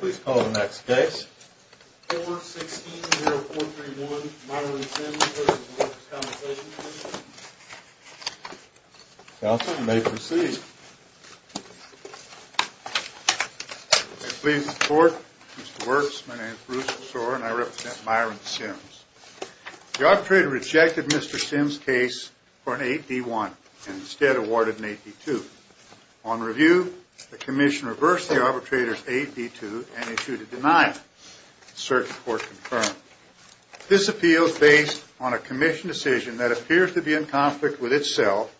Please call the next case. 4-16-0431 Myron Sims v. Workers' Compensation Commission Counselor, you may proceed. I plead in support. Mr. Works, my name is Bruce Besore and I represent Myron Sims. The arbitrator rejected Mr. Sims' case for an 8-D-1 and instead awarded an 8-D-2. On review, the Commission reversed the arbitrator's 8-D-2 and issued a denial. The Circuit Court confirmed. This appeal is based on a Commission decision that appears to be in conflict with itself,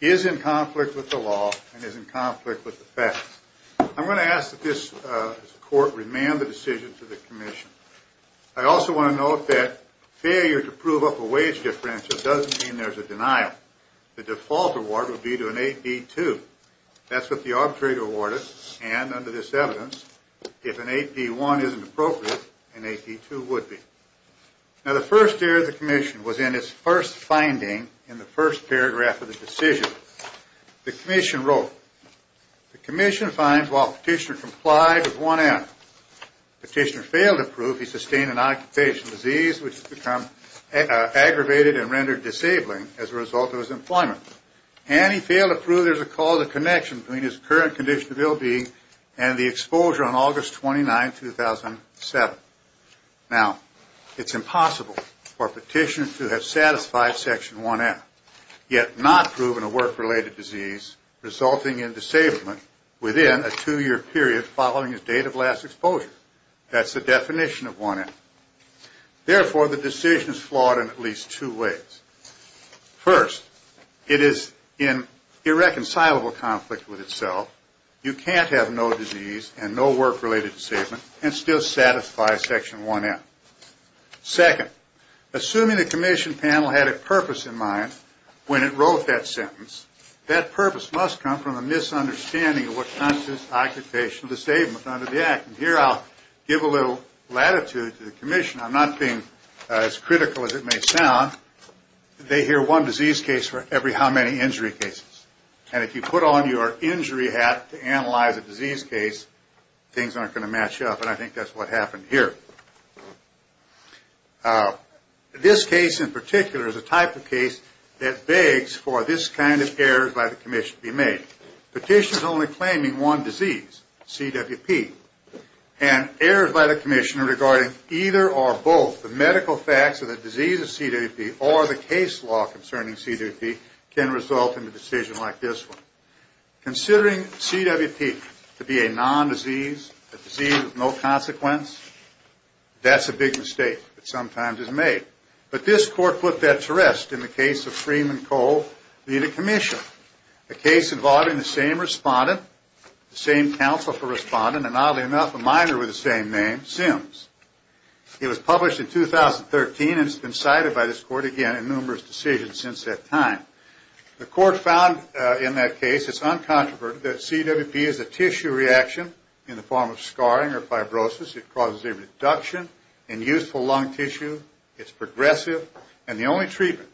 is in conflict with the law, and is in conflict with the facts. I'm going to ask that this Court remand the decision to the Commission. I also want to note that failure to prove up a wage difference doesn't mean there's a denial. In fact, the default award would be to an 8-D-2. That's what the arbitrator awarded, and under this evidence, if an 8-D-1 isn't appropriate, an 8-D-2 would be. Now the first error of the Commission was in its first finding in the first paragraph of the decision. The Commission wrote, The Commission finds while Petitioner complied with one end, Petitioner failed to prove he sustained an occupational disease which has become aggravated and rendered disabling as a result of his employment, and he failed to prove there's a cause of connection between his current condition of ill-being and the exposure on August 29, 2007. Now, it's impossible for Petitioner to have satisfied Section 1-F, yet not proven a work-related disease resulting in disablement within a two-year period following his date of last exposure. That's the definition of 1-F. Therefore, the decision is flawed in at least two ways. First, it is an irreconcilable conflict with itself. You can't have no disease and no work-related disablement and still satisfy Section 1-F. Second, assuming the Commission panel had a purpose in mind when it wrote that sentence, that purpose must come from a misunderstanding of what causes occupational disablement under the Act. And here I'll give a little latitude to the Commission. I'm not being as critical as it may sound. They hear one disease case for every how many injury cases. And if you put on your injury hat to analyze a disease case, things aren't going to match up. And I think that's what happened here. This case in particular is a type of case that begs for this kind of error by the Commission to be made. Petitions only claiming one disease, CWP, and errors by the Commission regarding either or both the medical facts of the disease of CWP or the case law concerning CWP can result in a decision like this one. Considering CWP to be a non-disease, a disease with no consequence, that's a big mistake that sometimes is made. But this Court put that to rest in the case of Freeman Cole v. the Commission, a case involving the same respondent, the same counsel for respondent, and oddly enough a minor with the same name, Sims. It was published in 2013 and has been cited by this Court again in numerous decisions since that time. The Court found in that case it's uncontroverted that CWP is a tissue reaction in the form of scarring or fibrosis. It causes a reduction in useful lung tissue. It's progressive. And the only treatment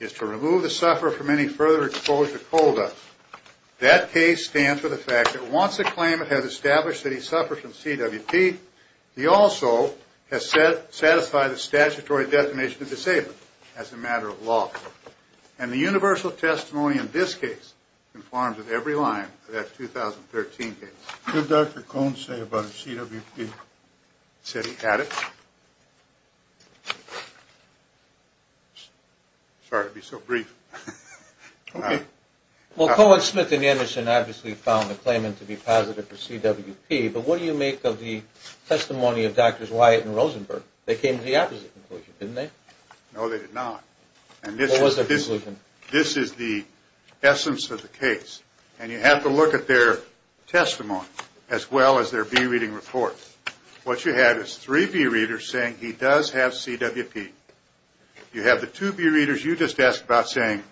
is to remove the sufferer from any further exposure to CODA. That case stands for the fact that once a claimant has established that he suffers from CWP, he also has satisfied the statutory designation of disabled as a matter of law. And the universal testimony in this case conforms with every line of that 2013 case. What did Dr. Cohn say about CWP? He said he had it. Sorry to be so brief. Well, Cohn, Smith, and Anderson obviously found the claimant to be positive for CWP, but what do you make of the testimony of Drs. Wyatt and Rosenberg? They came to the opposite conclusion, didn't they? No, they did not. What was their conclusion? This is the essence of the case. And you have to look at their testimony as well as their bereading report. What you have is three bereaders saying he does have CWP. You have the two bereaders you just asked about saying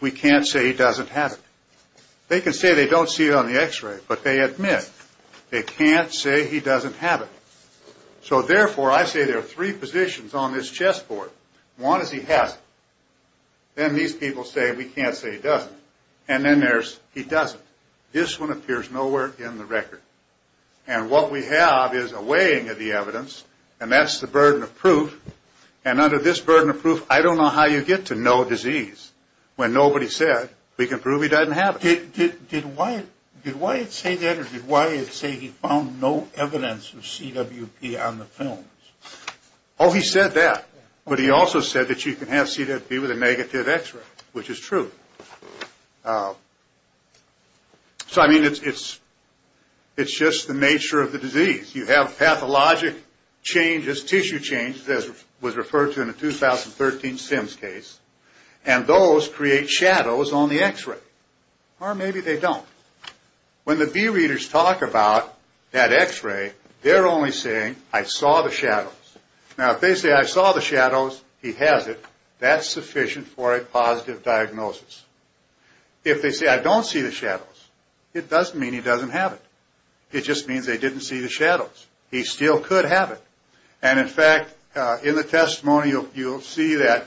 we can't say he doesn't have it. They can say they don't see it on the X-ray, but they admit they can't say he doesn't have it. So, therefore, I say there are three positions on this chessboard. One is he has it. Then these people say we can't say he doesn't. And then there's he doesn't. This one appears nowhere in the record. And what we have is a weighing of the evidence, and that's the burden of proof. And under this burden of proof, I don't know how you get to no disease when nobody said we can prove he doesn't have it. Did Wyatt say that, or did Wyatt say he found no evidence of CWP on the films? Oh, he said that. But he also said that you can have CWP with a negative X-ray, which is true. So, I mean, it's just the nature of the disease. You have pathologic changes, tissue changes, as was referred to in the 2013 Sims case, and those create shadows on the X-ray. Or maybe they don't. When the bereaders talk about that X-ray, they're only saying I saw the shadows. Now, if they say I saw the shadows, he has it, that's sufficient for a positive diagnosis. If they say I don't see the shadows, it doesn't mean he doesn't have it. It just means they didn't see the shadows. He still could have it. And, in fact, in the testimony, you'll see that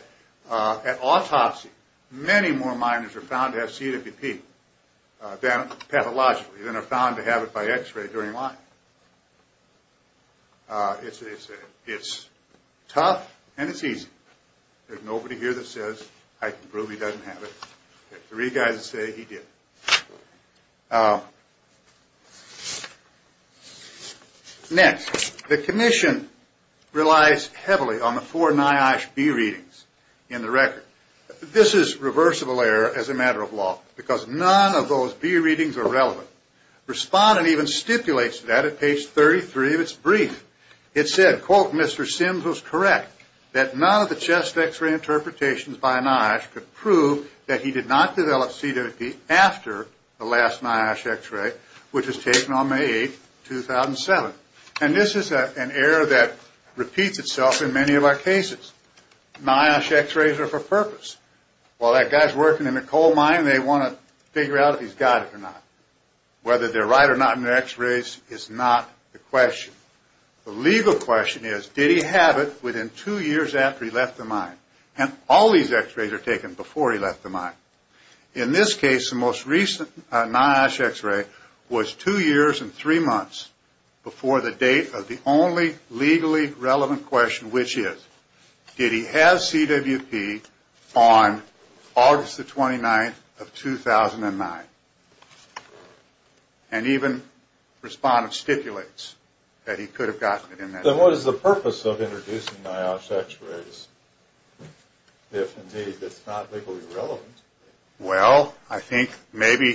at autopsy, many more minors are found to have CWP pathologically than are found to have it by X-ray during life. It's tough and it's easy. There's nobody here that says I can prove he doesn't have it. There are three guys that say he did. Next, the commission relies heavily on the four NIOSH B readings in the record. This is reversible error as a matter of law because none of those B readings are relevant. Respondent even stipulates that at page 33 of its brief. It said, quote, Mr. Sims was correct that none of the chest X-ray interpretations by NIOSH could prove that he did not develop CWP after the last NIOSH X-ray, which was taken on May 8, 2007. And this is an error that repeats itself in many of our cases. NIOSH X-rays are for purpose. While that guy's working in a coal mine, they want to figure out if he's got it or not. Whether they're right or not in their X-rays is not the question. The legal question is, did he have it within two years after he left the mine? And all these X-rays are taken before he left the mine. In this case, the most recent NIOSH X-ray was two years and three months before the date of the only legally relevant question, which is, did he have CWP on August the 29th of 2009? And even respondent stipulates that he could have gotten it in that time. Then what is the purpose of introducing NIOSH X-rays if indeed it's not legally relevant? Well, I think maybe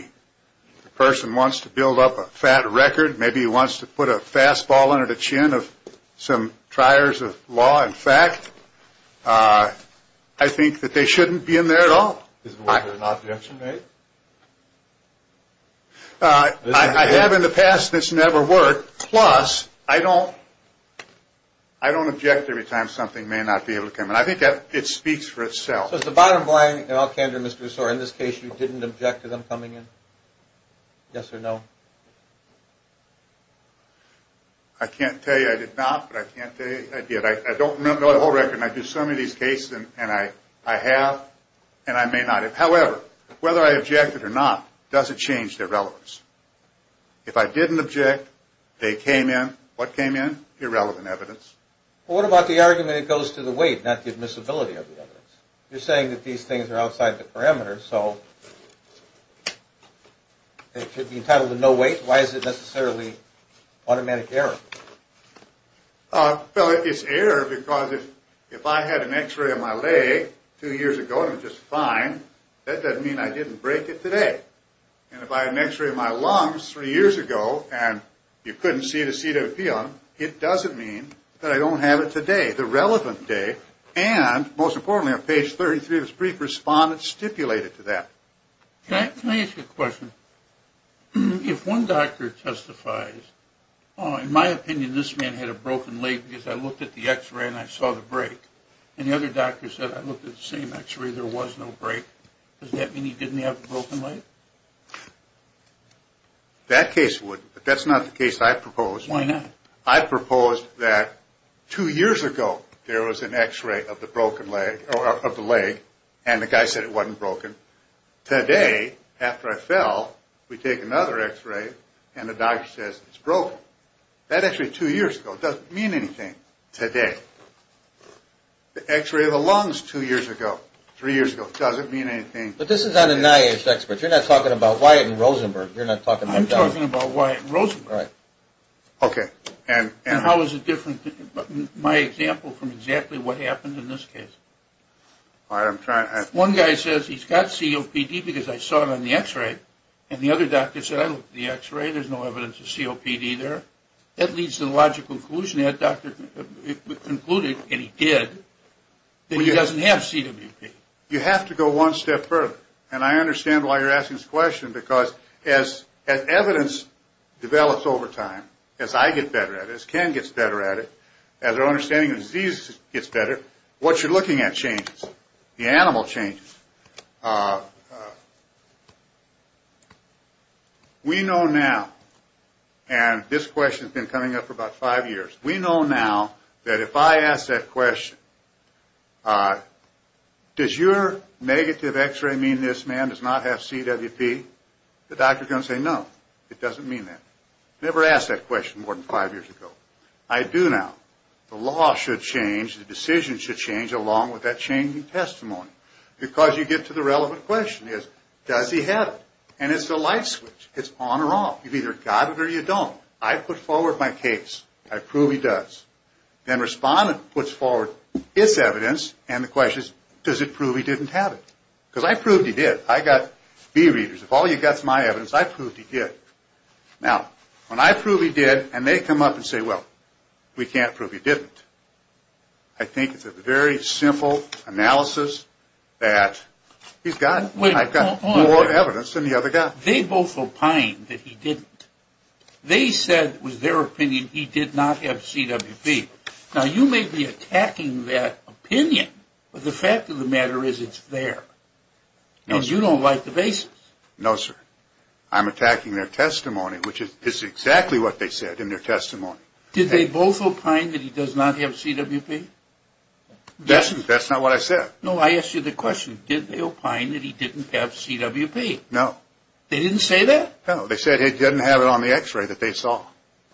the person wants to build up a fat record. Maybe he wants to put a fastball under the chin of some triers of law and fact. I think that they shouldn't be in there at all. Is it worth an objection, right? I have in the past, and it's never worked. Plus, I don't object every time something may not be able to come in. I think it speaks for itself. So it's the bottom line in all candor, Mr. Ussor, in this case you didn't object to them coming in? Yes or no? I can't tell you I did not, but I can tell you I did. I don't know the whole record, and I do some of these cases, and I have, and I may not. However, whether I objected or not doesn't change their relevance. If I didn't object, they came in. What came in? Irrelevant evidence. Well, what about the argument it goes to the weight, not the admissibility of the evidence? You're saying that these things are outside the parameters, so they should be entitled to no weight? Why is it necessarily automatic error? Well, it's error because if I had an x-ray of my leg two years ago and it was just fine, that doesn't mean I didn't break it today. And if I had an x-ray of my lungs three years ago and you couldn't see the CWP on them, it doesn't mean that I don't have it today, the relevant day. And most importantly, on page 33 of this brief, respondents stipulate it to that. Can I ask you a question? If one doctor testifies, oh, in my opinion, this man had a broken leg because I looked at the x-ray and I saw the break, and the other doctor said I looked at the same x-ray, there was no break, does that mean he didn't have a broken leg? That case would, but that's not the case I propose. Why not? I propose that two years ago there was an x-ray of the leg and the guy said it wasn't broken. Today, after I fell, we take another x-ray and the doctor says it's broken. That x-ray is two years ago. It doesn't mean anything today. The x-ray of the lungs two years ago, three years ago, doesn't mean anything today. But this is on a NIH expert. You're not talking about Wyatt and Rosenberg. I'm talking about Wyatt and Rosenberg. Okay. And how is it different, my example, from exactly what happened in this case? One guy says he's got COPD because I saw it on the x-ray, and the other doctor said I looked at the x-ray, there's no evidence of COPD there. That leads to the logical conclusion that doctor concluded, and he did, that he doesn't have CWP. You have to go one step further. And I understand why you're asking this question because as evidence develops over time, as I get better at it, as Ken gets better at it, as our understanding of disease gets better, what you're looking at changes. The animal changes. We know now, and this question has been coming up for about five years, we know now that if I ask that question, does your negative x-ray mean this man does not have CWP, the doctor is going to say no, it doesn't mean that. Never asked that question more than five years ago. I do now. The law should change. The decision should change along with that changing testimony. Because you get to the relevant question is, does he have it? And it's a light switch. It's on or off. You've either got it or you don't. I put forward my case. I prove he does. Then respondent puts forward its evidence and the question is, does it prove he didn't have it? Because I proved he did. I got B readers. If all you've got is my evidence, I proved he did. Now, when I prove he did and they come up and say, well, we can't prove he didn't, I think it's a very simple analysis that he's got it. I've got more evidence than the other guy. They both opined that he didn't. They said it was their opinion he did not have CWP. Now, you may be attacking that opinion, but the fact of the matter is it's there. And you don't like the basis. No, sir. I'm attacking their testimony, which is exactly what they said in their testimony. Did they both opine that he does not have CWP? That's not what I said. No, I asked you the question. Did they opine that he didn't have CWP? No. They didn't say that? No. They said he didn't have it on the X-ray that they saw.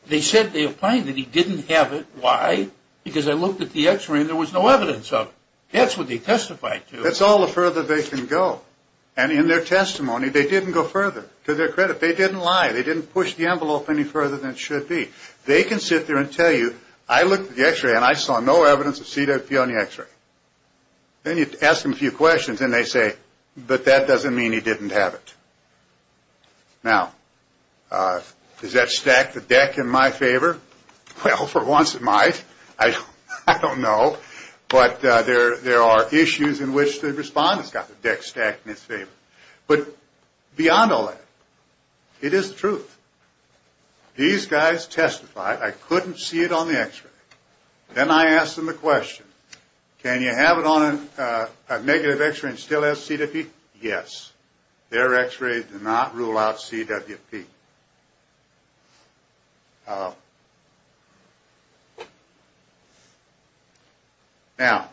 They said they opined that he didn't have it. Why? Because I looked at the X-ray and there was no evidence of it. That's what they testified to. That's all the further they can go. And in their testimony, they didn't go further. To their credit, they didn't lie. They didn't push the envelope any further than it should be. They can sit there and tell you, I looked at the X-ray and I saw no evidence of CWP on the X-ray. Then you ask them a few questions and they say, but that doesn't mean he didn't have it. Now, does that stack the deck in my favor? Well, for once it might. I don't know. But there are issues in which the respondent's got the deck stacked in his favor. But beyond all that, it is the truth. I couldn't see it on the X-ray. Then I asked them the question, can you have it on a negative X-ray and still have CWP? Yes. Their X-ray did not rule out CWP. Now,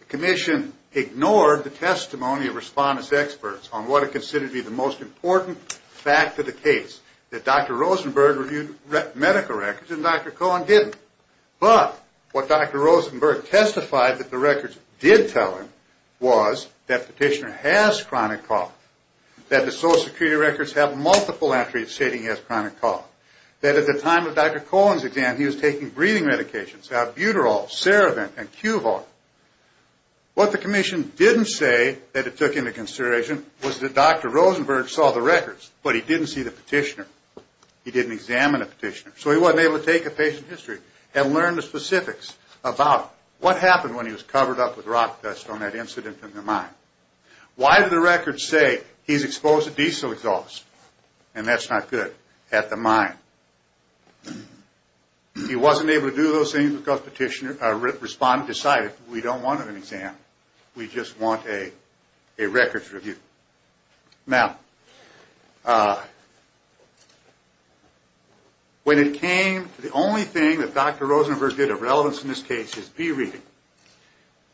the commission ignored the testimony of respondent's experts on what it considered to be the most important fact of the case, that Dr. Rosenberg reviewed medical records and Dr. Cohen didn't. But what Dr. Rosenberg testified that the records did tell him was that the petitioner has chronic cough, that the Social Security records have multiple entries stating he has chronic cough, that at the time of Dr. Cohen's exam he was taking breathing medications, albuterol, serevant, and QVAR. What the commission didn't say that it took into consideration was that Dr. Rosenberg saw the records, but he didn't see the petitioner. He didn't examine the petitioner. So he wasn't able to take a patient history and learn the specifics about what happened when he was covered up with rock dust on that incident in the mine. Why did the records say he's exposed to diesel exhaust? And that's not good at the mine. He wasn't able to do those things because respondent decided we don't want an exam. We just want a records review. Now, when it came to the only thing that Dr. Rosenberg did of relevance in this case, his B-reading,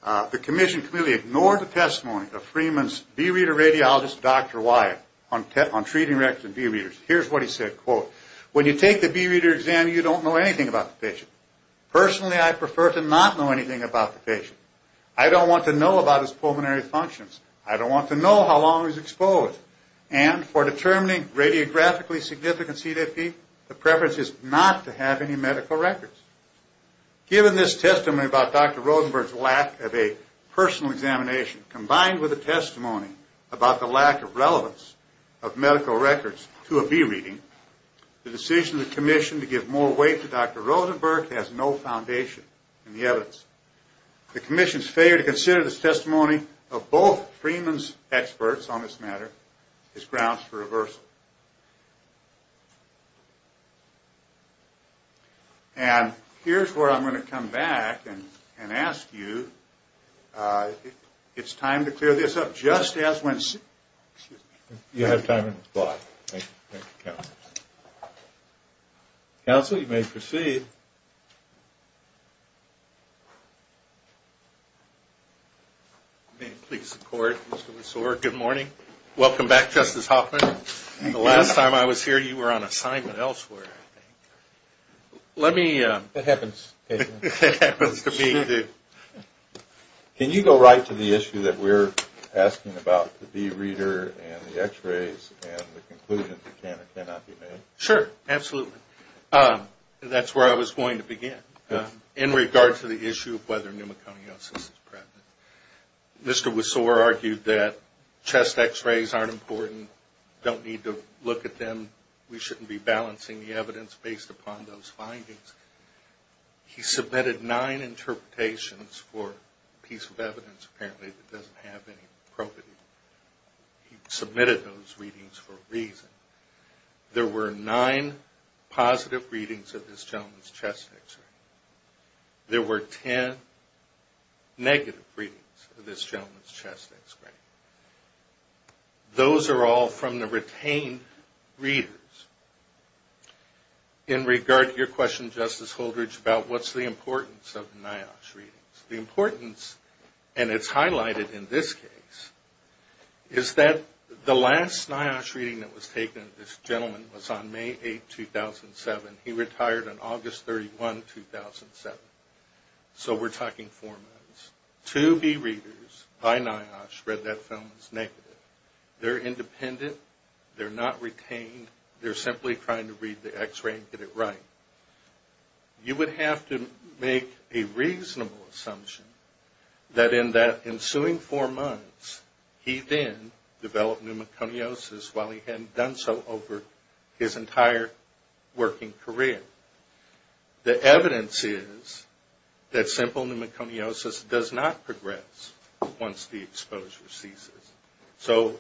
the commission clearly ignored the testimony of Freeman's B-reader radiologist, Dr. Wyatt, on treating records and B-readers. Here's what he said, quote, When you take the B-reader exam, you don't know anything about the patient. Personally, I prefer to not know anything about the patient. I don't want to know about his pulmonary functions. I don't want to know how long he was exposed. And for determining radiographically significant CDFP, the preference is not to have any medical records. Given this testimony about Dr. Rosenberg's lack of a personal examination, combined with a testimony about the lack of relevance of medical records to a B-reading, the decision of the commission to give more weight to Dr. Rosenberg has no foundation in the evidence. The commission's failure to consider this testimony of both Freeman's experts on this matter is grounds for reversal. And here's where I'm going to come back and ask you if it's time to clear this up, just as when... Excuse me. You have time in this block. Thank you, counsel. Counsel, you may proceed. May it please the court, Mr. Lesore, good morning. Welcome back, Justice Hoffman. The last time I was here, you were on assignment elsewhere, I think. Let me... It happens. It happens to me. Can you go right to the issue that we're asking about the B-reader and the x-rays and the conclusions that cannot be made? Sure, absolutely. That's where I was going to begin. In regard to the issue of whether pneumoconiosis is pregnant, Mr. Lesore argued that chest x-rays aren't important, don't need to look at them, we shouldn't be balancing the evidence based upon those findings. He submitted nine interpretations for a piece of evidence, apparently, that doesn't have any probity. There were nine positive readings of this gentleman's chest x-ray. There were ten negative readings of this gentleman's chest x-ray. Those are all from the retained readers. In regard to your question, Justice Holdridge, about what's the importance of NIOSH readings, the importance, and it's highlighted in this case, is that the last NIOSH reading that was taken of this gentleman was on May 8, 2007. He retired on August 31, 2007. So we're talking four months. Two B-readers by NIOSH read that film as negative. They're independent. They're not retained. They're simply trying to read the x-ray and get it right. You would have to make a reasonable assumption that in that ensuing four months, he then developed pneumoconiosis while he hadn't done so over his entire working career. The evidence is that simple pneumoconiosis does not progress once the exposure ceases. So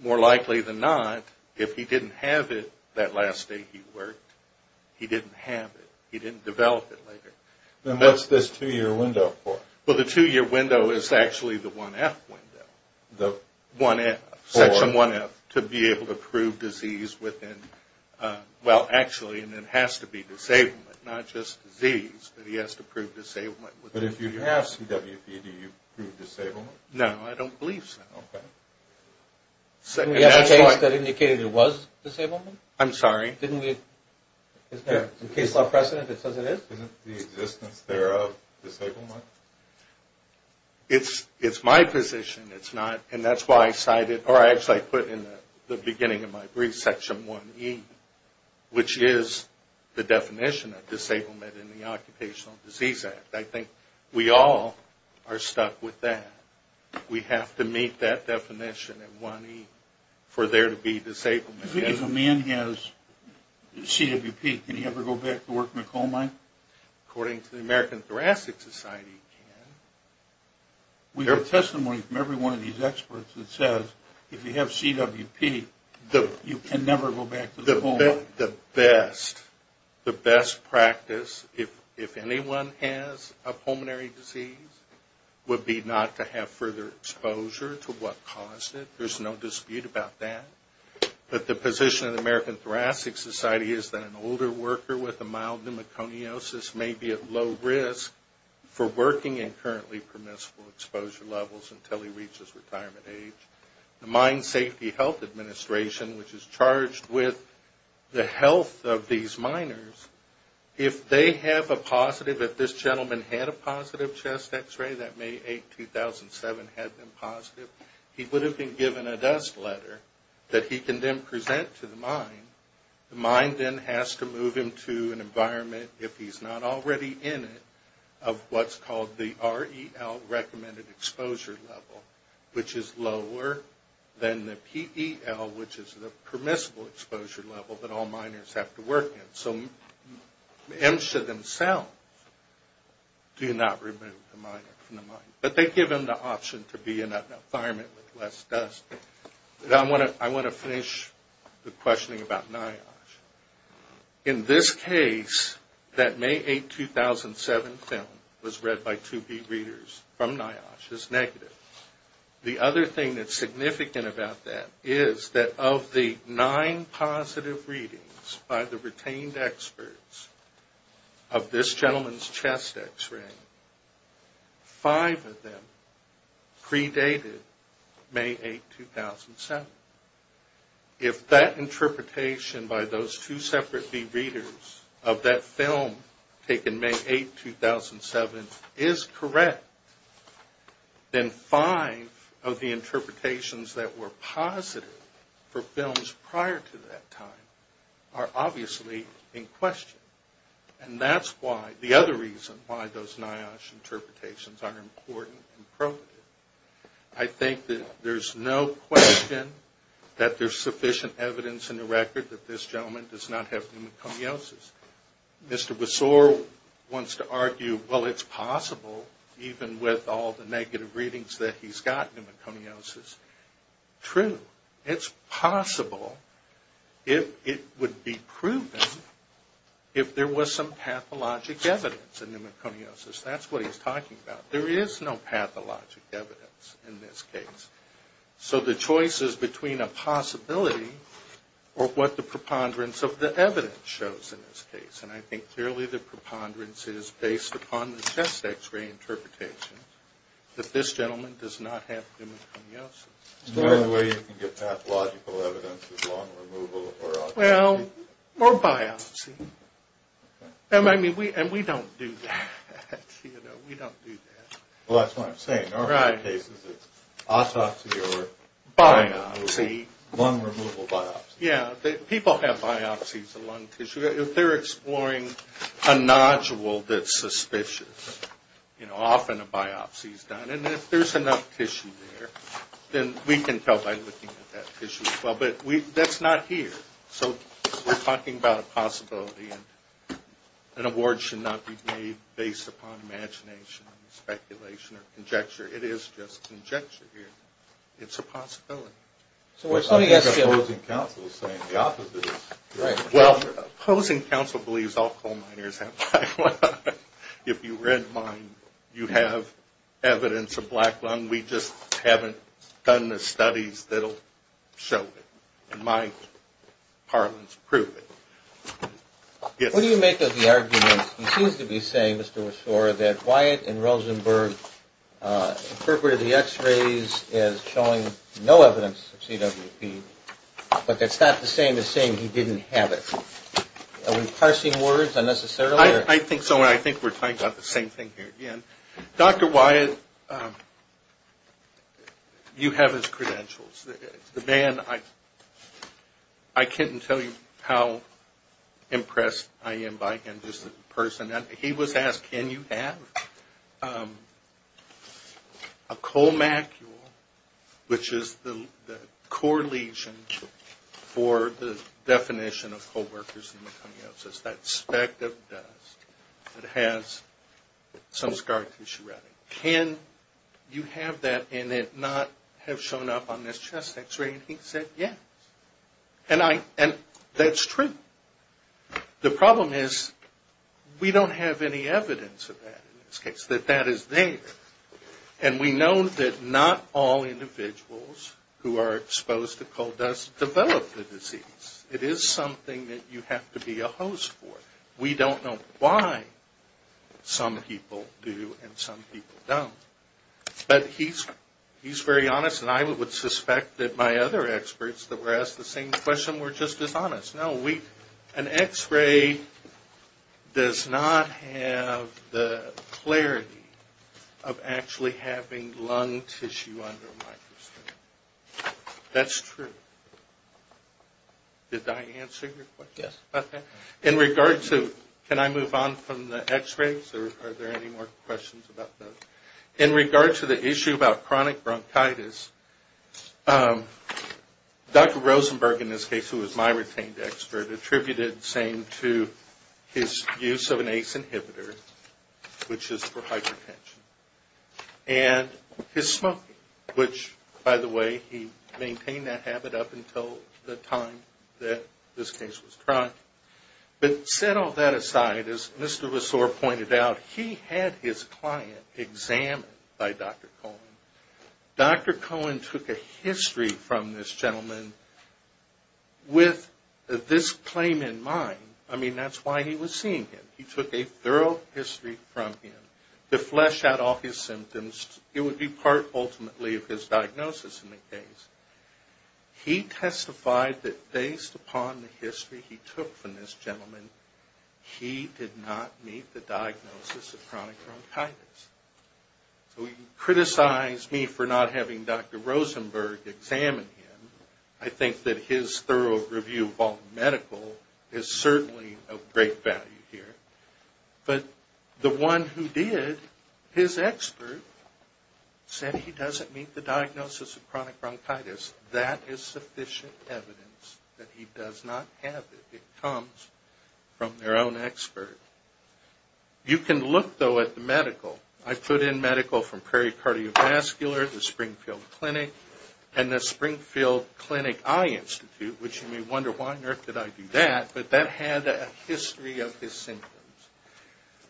more likely than not, if he didn't have it that last day he worked, he didn't have it. He didn't develop it later. Then what's this two-year window for? Well, the two-year window is actually the 1F window, Section 1F, to be able to prove disease within – well, actually, and it has to be disablement, not just disease, but he has to prove disablement. But if you have CWV, do you prove disablement? No. No, I don't believe so. Okay. We have a case that indicated it was disablement? I'm sorry? Didn't we – isn't there some case law precedent that says it is? Isn't the existence thereof disablement? It's my position. It's not – and that's why I cited – or I actually put in the beginning of my brief, Section 1E, which is the definition of disablement in the Occupational Disease Act. I think we all are stuck with that. We have to meet that definition in 1E for there to be disablement. If a man has CWP, can he ever go back to work in a coal mine? According to the American Thoracic Society, he can. We have testimony from every one of these experts that says if you have CWP, you can never go back to the coal mine. I think the best practice, if anyone has a pulmonary disease, would be not to have further exposure to what caused it. There's no dispute about that. But the position of the American Thoracic Society is that an older worker with a mild pneumoconiosis may be at low risk for working in currently permissible exposure levels until he reaches retirement age. The Mine Safety Health Administration, which is charged with the health of these miners, if they have a positive – if this gentleman had a positive chest X-ray, that May 8, 2007, had been positive, he would have been given a dust letter that he can then present to the mine. The mine then has to move him to an environment, if he's not already in it, of what's called the REL recommended exposure level, which is lower than the PEL, which is the permissible exposure level that all miners have to work in. So MSHA themselves do not remove the miner from the mine. But they give him the option to be in an environment with less dust. I want to finish the questioning about NIOSH. In this case, that May 8, 2007 film was read by 2B readers from NIOSH as negative. The other thing that's significant about that is that of the nine positive readings by the retained experts of this gentleman's chest X-ray, five of them predated May 8, 2007. If that interpretation by those two separate B readers of that film, taken May 8, 2007, is correct, then five of the interpretations that were positive for films prior to that time are obviously in question. And that's why – the other reason why those NIOSH interpretations are important and provative. I think that there's no question that there's sufficient evidence in the record that this gentleman does not have pneumoconiosis. Mr. Besore wants to argue, well, it's possible, even with all the negative readings that he's got pneumoconiosis. True. It's possible. It would be proven if there was some pathologic evidence of pneumoconiosis. That's what he's talking about. There is no pathologic evidence in this case. So the choice is between a possibility or what the preponderance of the evidence shows in this case. And I think clearly the preponderance is based upon the chest X-ray interpretation that this gentleman does not have pneumoconiosis. Is there any way you can get pathological evidence of lung removal or biopsy? Well, or biopsy. And we don't do that. We don't do that. Well, that's what I'm saying. In a lot of cases it's autopsy or lung removal biopsy. People have biopsies of lung tissue. If they're exploring a nodule that's suspicious, often a biopsy is done. And if there's enough tissue there, then we can tell by looking at that tissue as well. But that's not here. So we're talking about a possibility. An award should not be made based upon imagination, speculation, or conjecture. It is just conjecture here. It's a possibility. I think opposing counsel is saying the opposite. Well, opposing counsel believes all coal miners have black lung. If you rent mine, you have evidence of black lung. We just haven't done the studies that will show it. And my parliaments prove it. What do you make of the argument? He seems to be saying, Mr. Washore, that Wyatt and Rosenberg interpreted the X-rays as showing no evidence of CWP. But that's not the same as saying he didn't have it. Are we parsing words unnecessarily? I think so, and I think we're talking about the same thing here again. Dr. Wyatt, you have his credentials. The man, I couldn't tell you how impressed I am by him as a person. He was asked, can you have a colmacule, which is the core lesion for the definition of co-workers in meconiosis, that speck of dust that has some scar tissue around it. Can you have that and it not have shown up on this chest X-ray? And he said, yes. And that's true. The problem is we don't have any evidence of that in this case, that that is there. And we know that not all individuals who are exposed to coal dust develop the disease. It is something that you have to be a host for. We don't know why some people do and some people don't. But he's very honest, and I would suspect that my other experts that were asked the same question were just as honest. No, an X-ray does not have the clarity of actually having lung tissue under a microscope. That's true. Did I answer your question? Yes. Okay. In regard to, can I move on from the X-rays? Are there any more questions about those? Okay. In regard to the issue about chronic bronchitis, Dr. Rosenberg in this case, who is my retained expert, attributed the same to his use of an ACE inhibitor, which is for hypertension. And his smoking, which by the way, he maintained that habit up until the time that this case was chronic. But set all that aside, as Mr. Ressort pointed out, he had his client examined by Dr. Cohen. Dr. Cohen took a history from this gentleman with this claim in mind. I mean, that's why he was seeing him. He took a thorough history from him to flesh out all his symptoms. It would be part ultimately of his diagnosis in the case. He testified that based upon the history he took from this gentleman, he did not meet the diagnosis of chronic bronchitis. So he criticized me for not having Dr. Rosenberg examine him. I think that his thorough review of all medical is certainly of great value here. But the one who did, his expert, said he doesn't meet the diagnosis of chronic bronchitis. That is sufficient evidence that he does not have it. It comes from their own expert. You can look, though, at the medical. I put in medical from Prairie Cardiovascular, the Springfield Clinic, and the Springfield Clinic Eye Institute, which you may wonder, why on earth did I do that? But that had a history of his symptoms.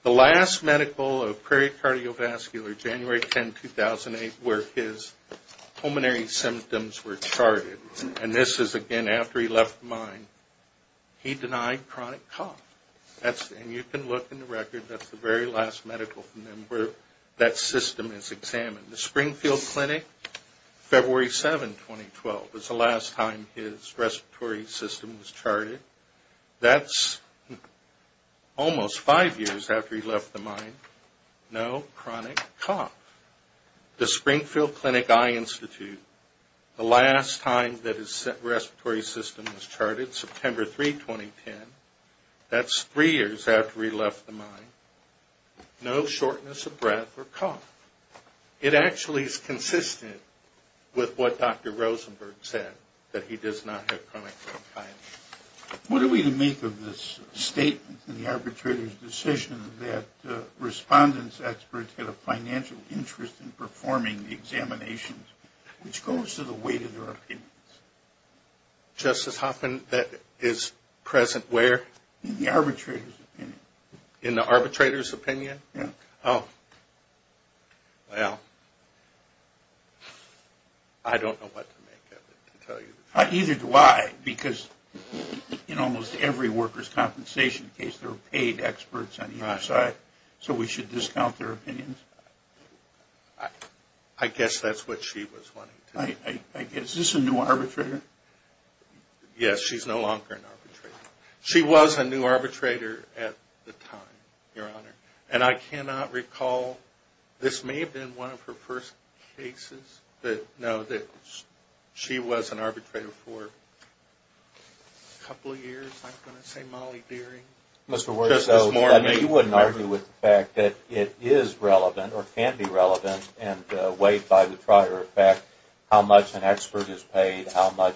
The last medical of Prairie Cardiovascular, January 10, 2008, where his pulmonary symptoms were charted. And this is, again, after he left mine. He denied chronic cough. And you can look in the record. That's the very last medical from him where that system is examined. The Springfield Clinic, February 7, 2012, was the last time his respiratory system was charted. That's almost five years after he left the mine. No chronic cough. The Springfield Clinic Eye Institute, the last time that his respiratory system was charted, September 3, 2010. No shortness of breath or cough. It actually is consistent with what Dr. Rosenberg said, that he does not have chronic bronchitis. What are we to make of this statement in the arbitrator's decision that respondents, experts, had a financial interest in performing the examinations, which goes to the weight of their opinions? Justice Hoffman, that is present where? In the arbitrator's opinion. In the arbitrator's opinion? Yeah. Oh. Well, I don't know what to make of it, to tell you the truth. Neither do I, because in almost every workers' compensation case, there are paid experts on either side. Right. So we should discount their opinions? I guess that's what she was wanting to say. Is this a new arbitrator? Yes, she's no longer an arbitrator. She was a new arbitrator at the time, Your Honor. And I cannot recall, this may have been one of her first cases, but no, she was an arbitrator for a couple of years, I'm going to say, Mollie Dearing. Justice Moore, you wouldn't argue with the fact that it is relevant, or can be relevant, and weighed by the prior effect, how much an expert is paid, how much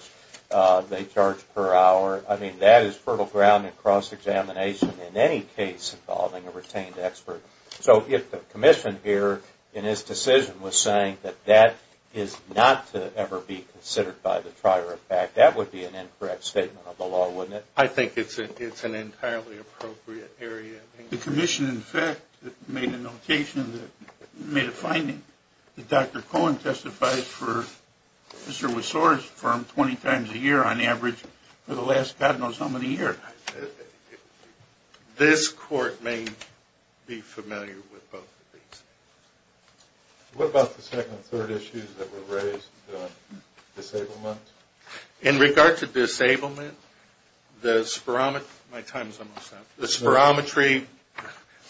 they charge per hour. I mean, that is fertile ground in cross-examination in any case involving a retained expert. So if the commission here, in its decision, was saying that that is not to ever be considered by the prior effect, that would be an incorrect statement of the law, wouldn't it? I think it's an entirely appropriate area. The commission, in fact, made a notation, made a finding, that Dr. Cohen testified for Mr. Wysore's firm 20 times a year on average for the last God knows how many years. This Court may be familiar with both of these. What about the second and third issues that were raised on disablement? In regard to disablement, the spirometry, my time is almost up, the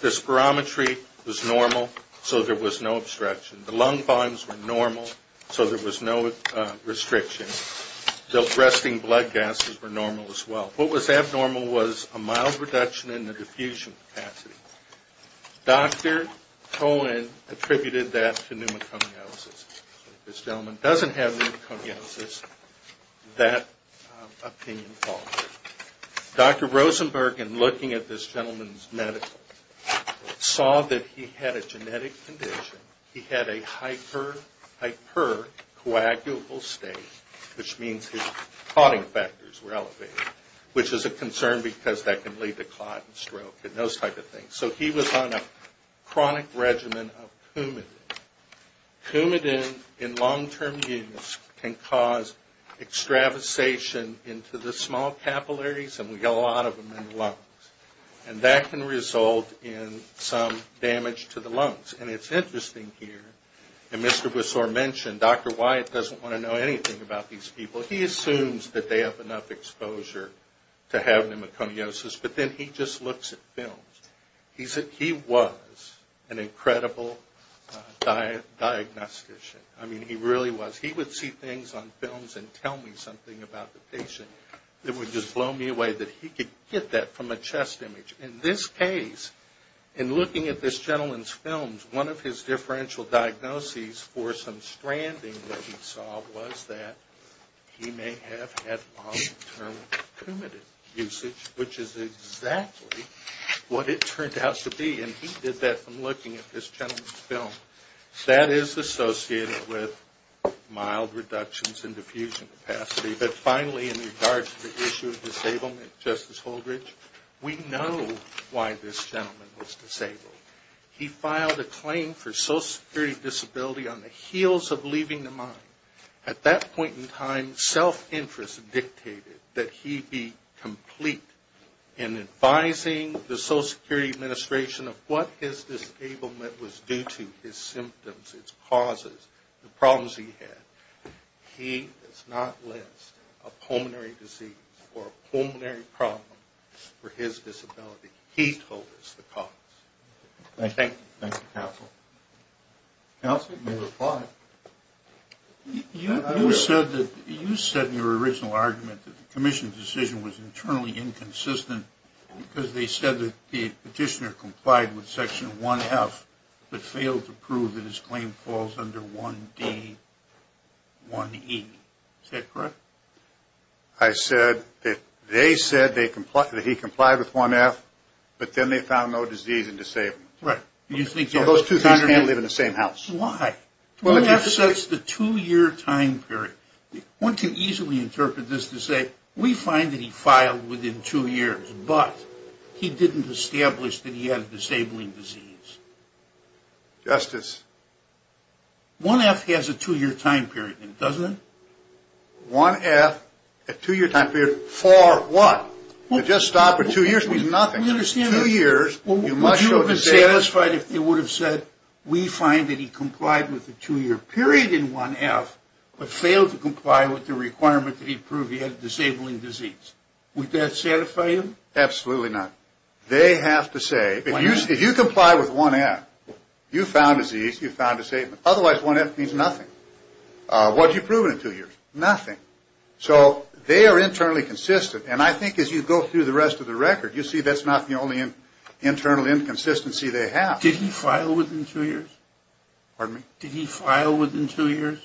spirometry was normal, so there was no obstruction. The lung volumes were normal, so there was no restriction. The resting blood gases were normal as well. What was abnormal was a mild reduction in the diffusion capacity. Dr. Cohen attributed that to pneumoconiosis. If this gentleman doesn't have pneumoconiosis, that opinion falls. Dr. Rosenberg, in looking at this gentleman's medical, saw that he had a genetic condition. He had a hypercoagulable state, which means his clotting factors were elevated, which is a concern because that can lead to clot and stroke and those types of things. So he was on a chronic regimen of Coumadin. Coumadin in long-term use can cause extravasation into the small capillaries, and we get a lot of them in the lungs. And that can result in some damage to the lungs. And it's interesting here, and Mr. Bussor mentioned, Dr. Wyatt doesn't want to know anything about these people. He assumes that they have enough exposure to have pneumoconiosis, but then he just looks at films. He was an incredible diagnostician. I mean, he really was. He would see things on films and tell me something about the patient. It would just blow me away that he could get that from a chest image. In this case, in looking at this gentleman's films, one of his differential diagnoses for some stranding that he saw was that he may have had long-term Coumadin usage, which is exactly what it turned out to be. And he did that from looking at this gentleman's film. That is associated with mild reductions in diffusion capacity. But finally, in regards to the issue of disablement, Justice Holdridge, we know why this gentleman was disabled. He filed a claim for social security disability on the heels of leaving the mine. At that point in time, self-interest dictated that he be complete in advising the Social Security Administration of what his disablement was due to, his symptoms, his causes, the problems he had. He does not list a pulmonary disease or a pulmonary problem for his disability. He told us the cause. Thank you. Thank you, Counsel. Counsel, you may reply. You said in your original argument that the commission's decision was internally inconsistent because they said that the petitioner complied with Section 1F but failed to prove that his claim falls under 1D, 1E. Is that correct? I said that they said that he complied with 1F, but then they found no disease in disablement. Right. So those two things can't live in the same house. Why? 1F sets the two-year time period. One can easily interpret this to say we find that he filed within two years, but he didn't establish that he had a disabling disease. Justice. 1F has a two-year time period, doesn't it? 1F, a two-year time period, for what? To just stop for two years means nothing. Two years, you must show disability. Would you be satisfied if they would have said, we find that he complied with the two-year period in 1F but failed to comply with the requirement that he prove he had a disabling disease? Would that satisfy him? Absolutely not. They have to say, if you comply with 1F, you found disease, you found disablement. Otherwise, 1F means nothing. What did you prove in two years? Nothing. So they are internally consistent. And I think as you go through the rest of the record, you'll see that's not the only internal inconsistency they have. Did he file within two years? Pardon me? Did he file within two years?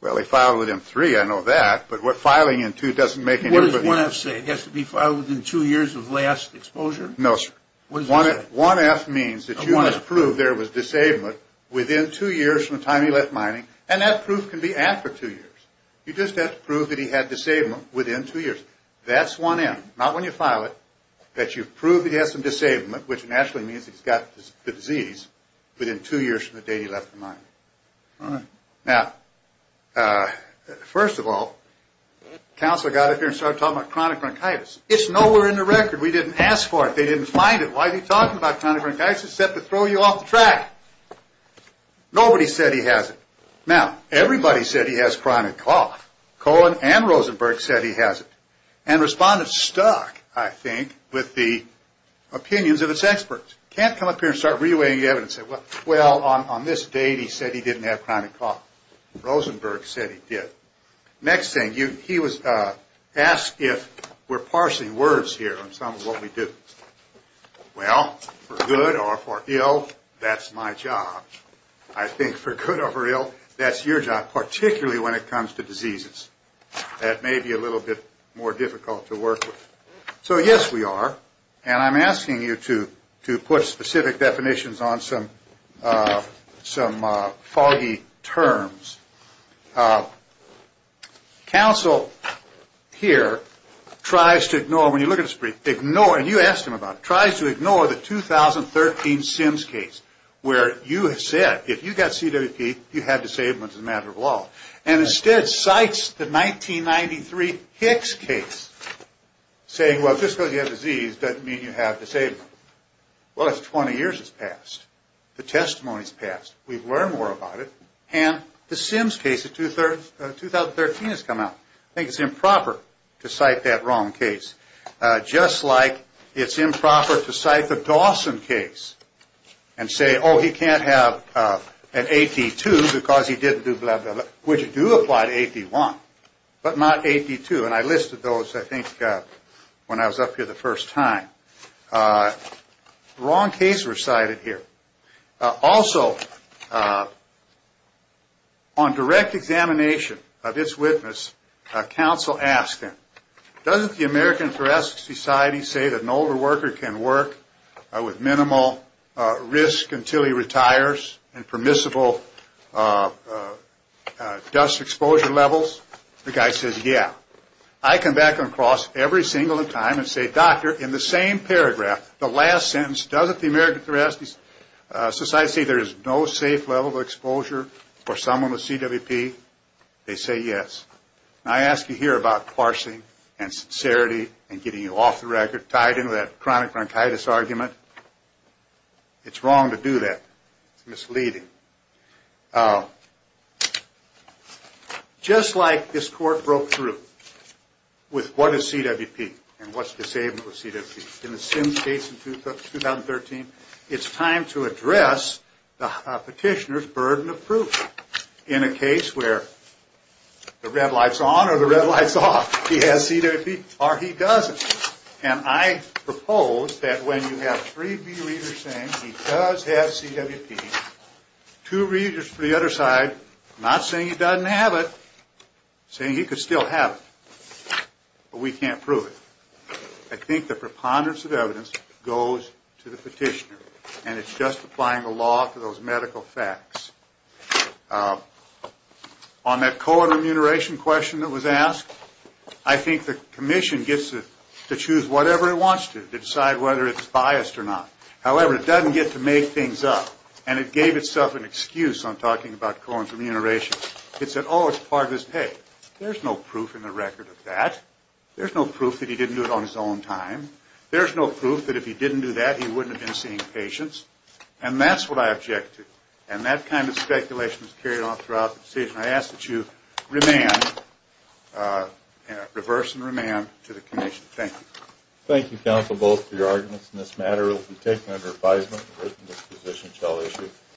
Well, he filed within three. I know that. But filing in two doesn't make any difference. What does 1F say? It has to be filed within two years of last exposure? No, sir. What does it say? 1F means that you must prove there was disablement within two years from the time he left mining. And that proof can be after two years. You just have to prove that he had disablement within two years. That's 1F. Not when you file it, that you've proved he has some disablement, which naturally means he's got the disease, within two years from the day he left the mine. All right. Now, first of all, the counselor got up here and started talking about chronic bronchitis. It's nowhere in the record. We didn't ask for it. They didn't find it. Why is he talking about chronic bronchitis except to throw you off the track? Nobody said he has it. Now, everybody said he has chronic cough. Cohen and Rosenberg said he has it. And respondents stuck, I think, with the opinions of its experts. Can't come up here and start re-weighing the evidence and say, well, on this date he said he didn't have chronic cough. Rosenberg said he did. Next thing, he was asked if we're parsing words here on some of what we do. Well, for good or for ill, that's my job. I think for good or for ill, that's your job, particularly when it comes to diseases. That may be a little bit more difficult to work with. So, yes, we are. And I'm asking you to put specific definitions on some foggy terms. Counsel here tries to ignore, when you look at his brief, ignore, and you asked him about it, tries to ignore the 2013 Sims case where you have said, if you've got CWP, you have disabled as a matter of law. And instead cites the 1993 Hicks case, saying, well, just because you have a disease doesn't mean you have disabled. Well, that's 20 years has passed. The testimony's passed. We've learned more about it. And the Sims case of 2013 has come out. I think it's improper to cite that wrong case. Just like it's improper to cite the Dawson case and say, oh, he can't have an AD2 because he didn't do blah, blah, blah, which do apply to AD1, but not AD2. And I listed those, I think, when I was up here the first time. Wrong case recited here. Also, on direct examination of its witness, counsel asked him, doesn't the American Thoracic Society say that an older worker can work with minimal risk until he retires and permissible dust exposure levels? The guy says, yeah. I come back and cross every single time and say, doctor, in the same paragraph, the last sentence, doesn't the American Thoracic Society say there is no safe level of exposure for someone with CWP? They say yes. And I ask you here about parsing and sincerity and getting you off the record, tied into that chronic bronchitis argument. It's wrong to do that. It's misleading. Just like this court broke through with what is CWP and what's disabled with CWP, in the Sims case in 2013, it's time to address the petitioner's burden of proof. In a case where the red light's on or the red light's off, he has CWP or he doesn't. And I propose that when you have three B readers saying he does have CWP, two readers from the other side not saying he doesn't have it, saying he could still have it. But we can't prove it. I think the preponderance of evidence goes to the petitioner, and it's just applying the law to those medical facts. On that Cohen remuneration question that was asked, I think the commission gets to choose whatever it wants to, to decide whether it's biased or not. However, it doesn't get to make things up. And it gave itself an excuse on talking about Cohen's remuneration. It said, oh, it's part of his pay. There's no proof in the record of that. There's no proof that he didn't do it on his own time. There's no proof that if he didn't do that, he wouldn't have been seeing patients. And that's what I object to. And that kind of speculation is carried on throughout the decision. I ask that you reverse and remand to the commission. Thank you. Thank you, counsel, both for your arguments in this matter. It will be taken under advisement. The written disposition shall issue.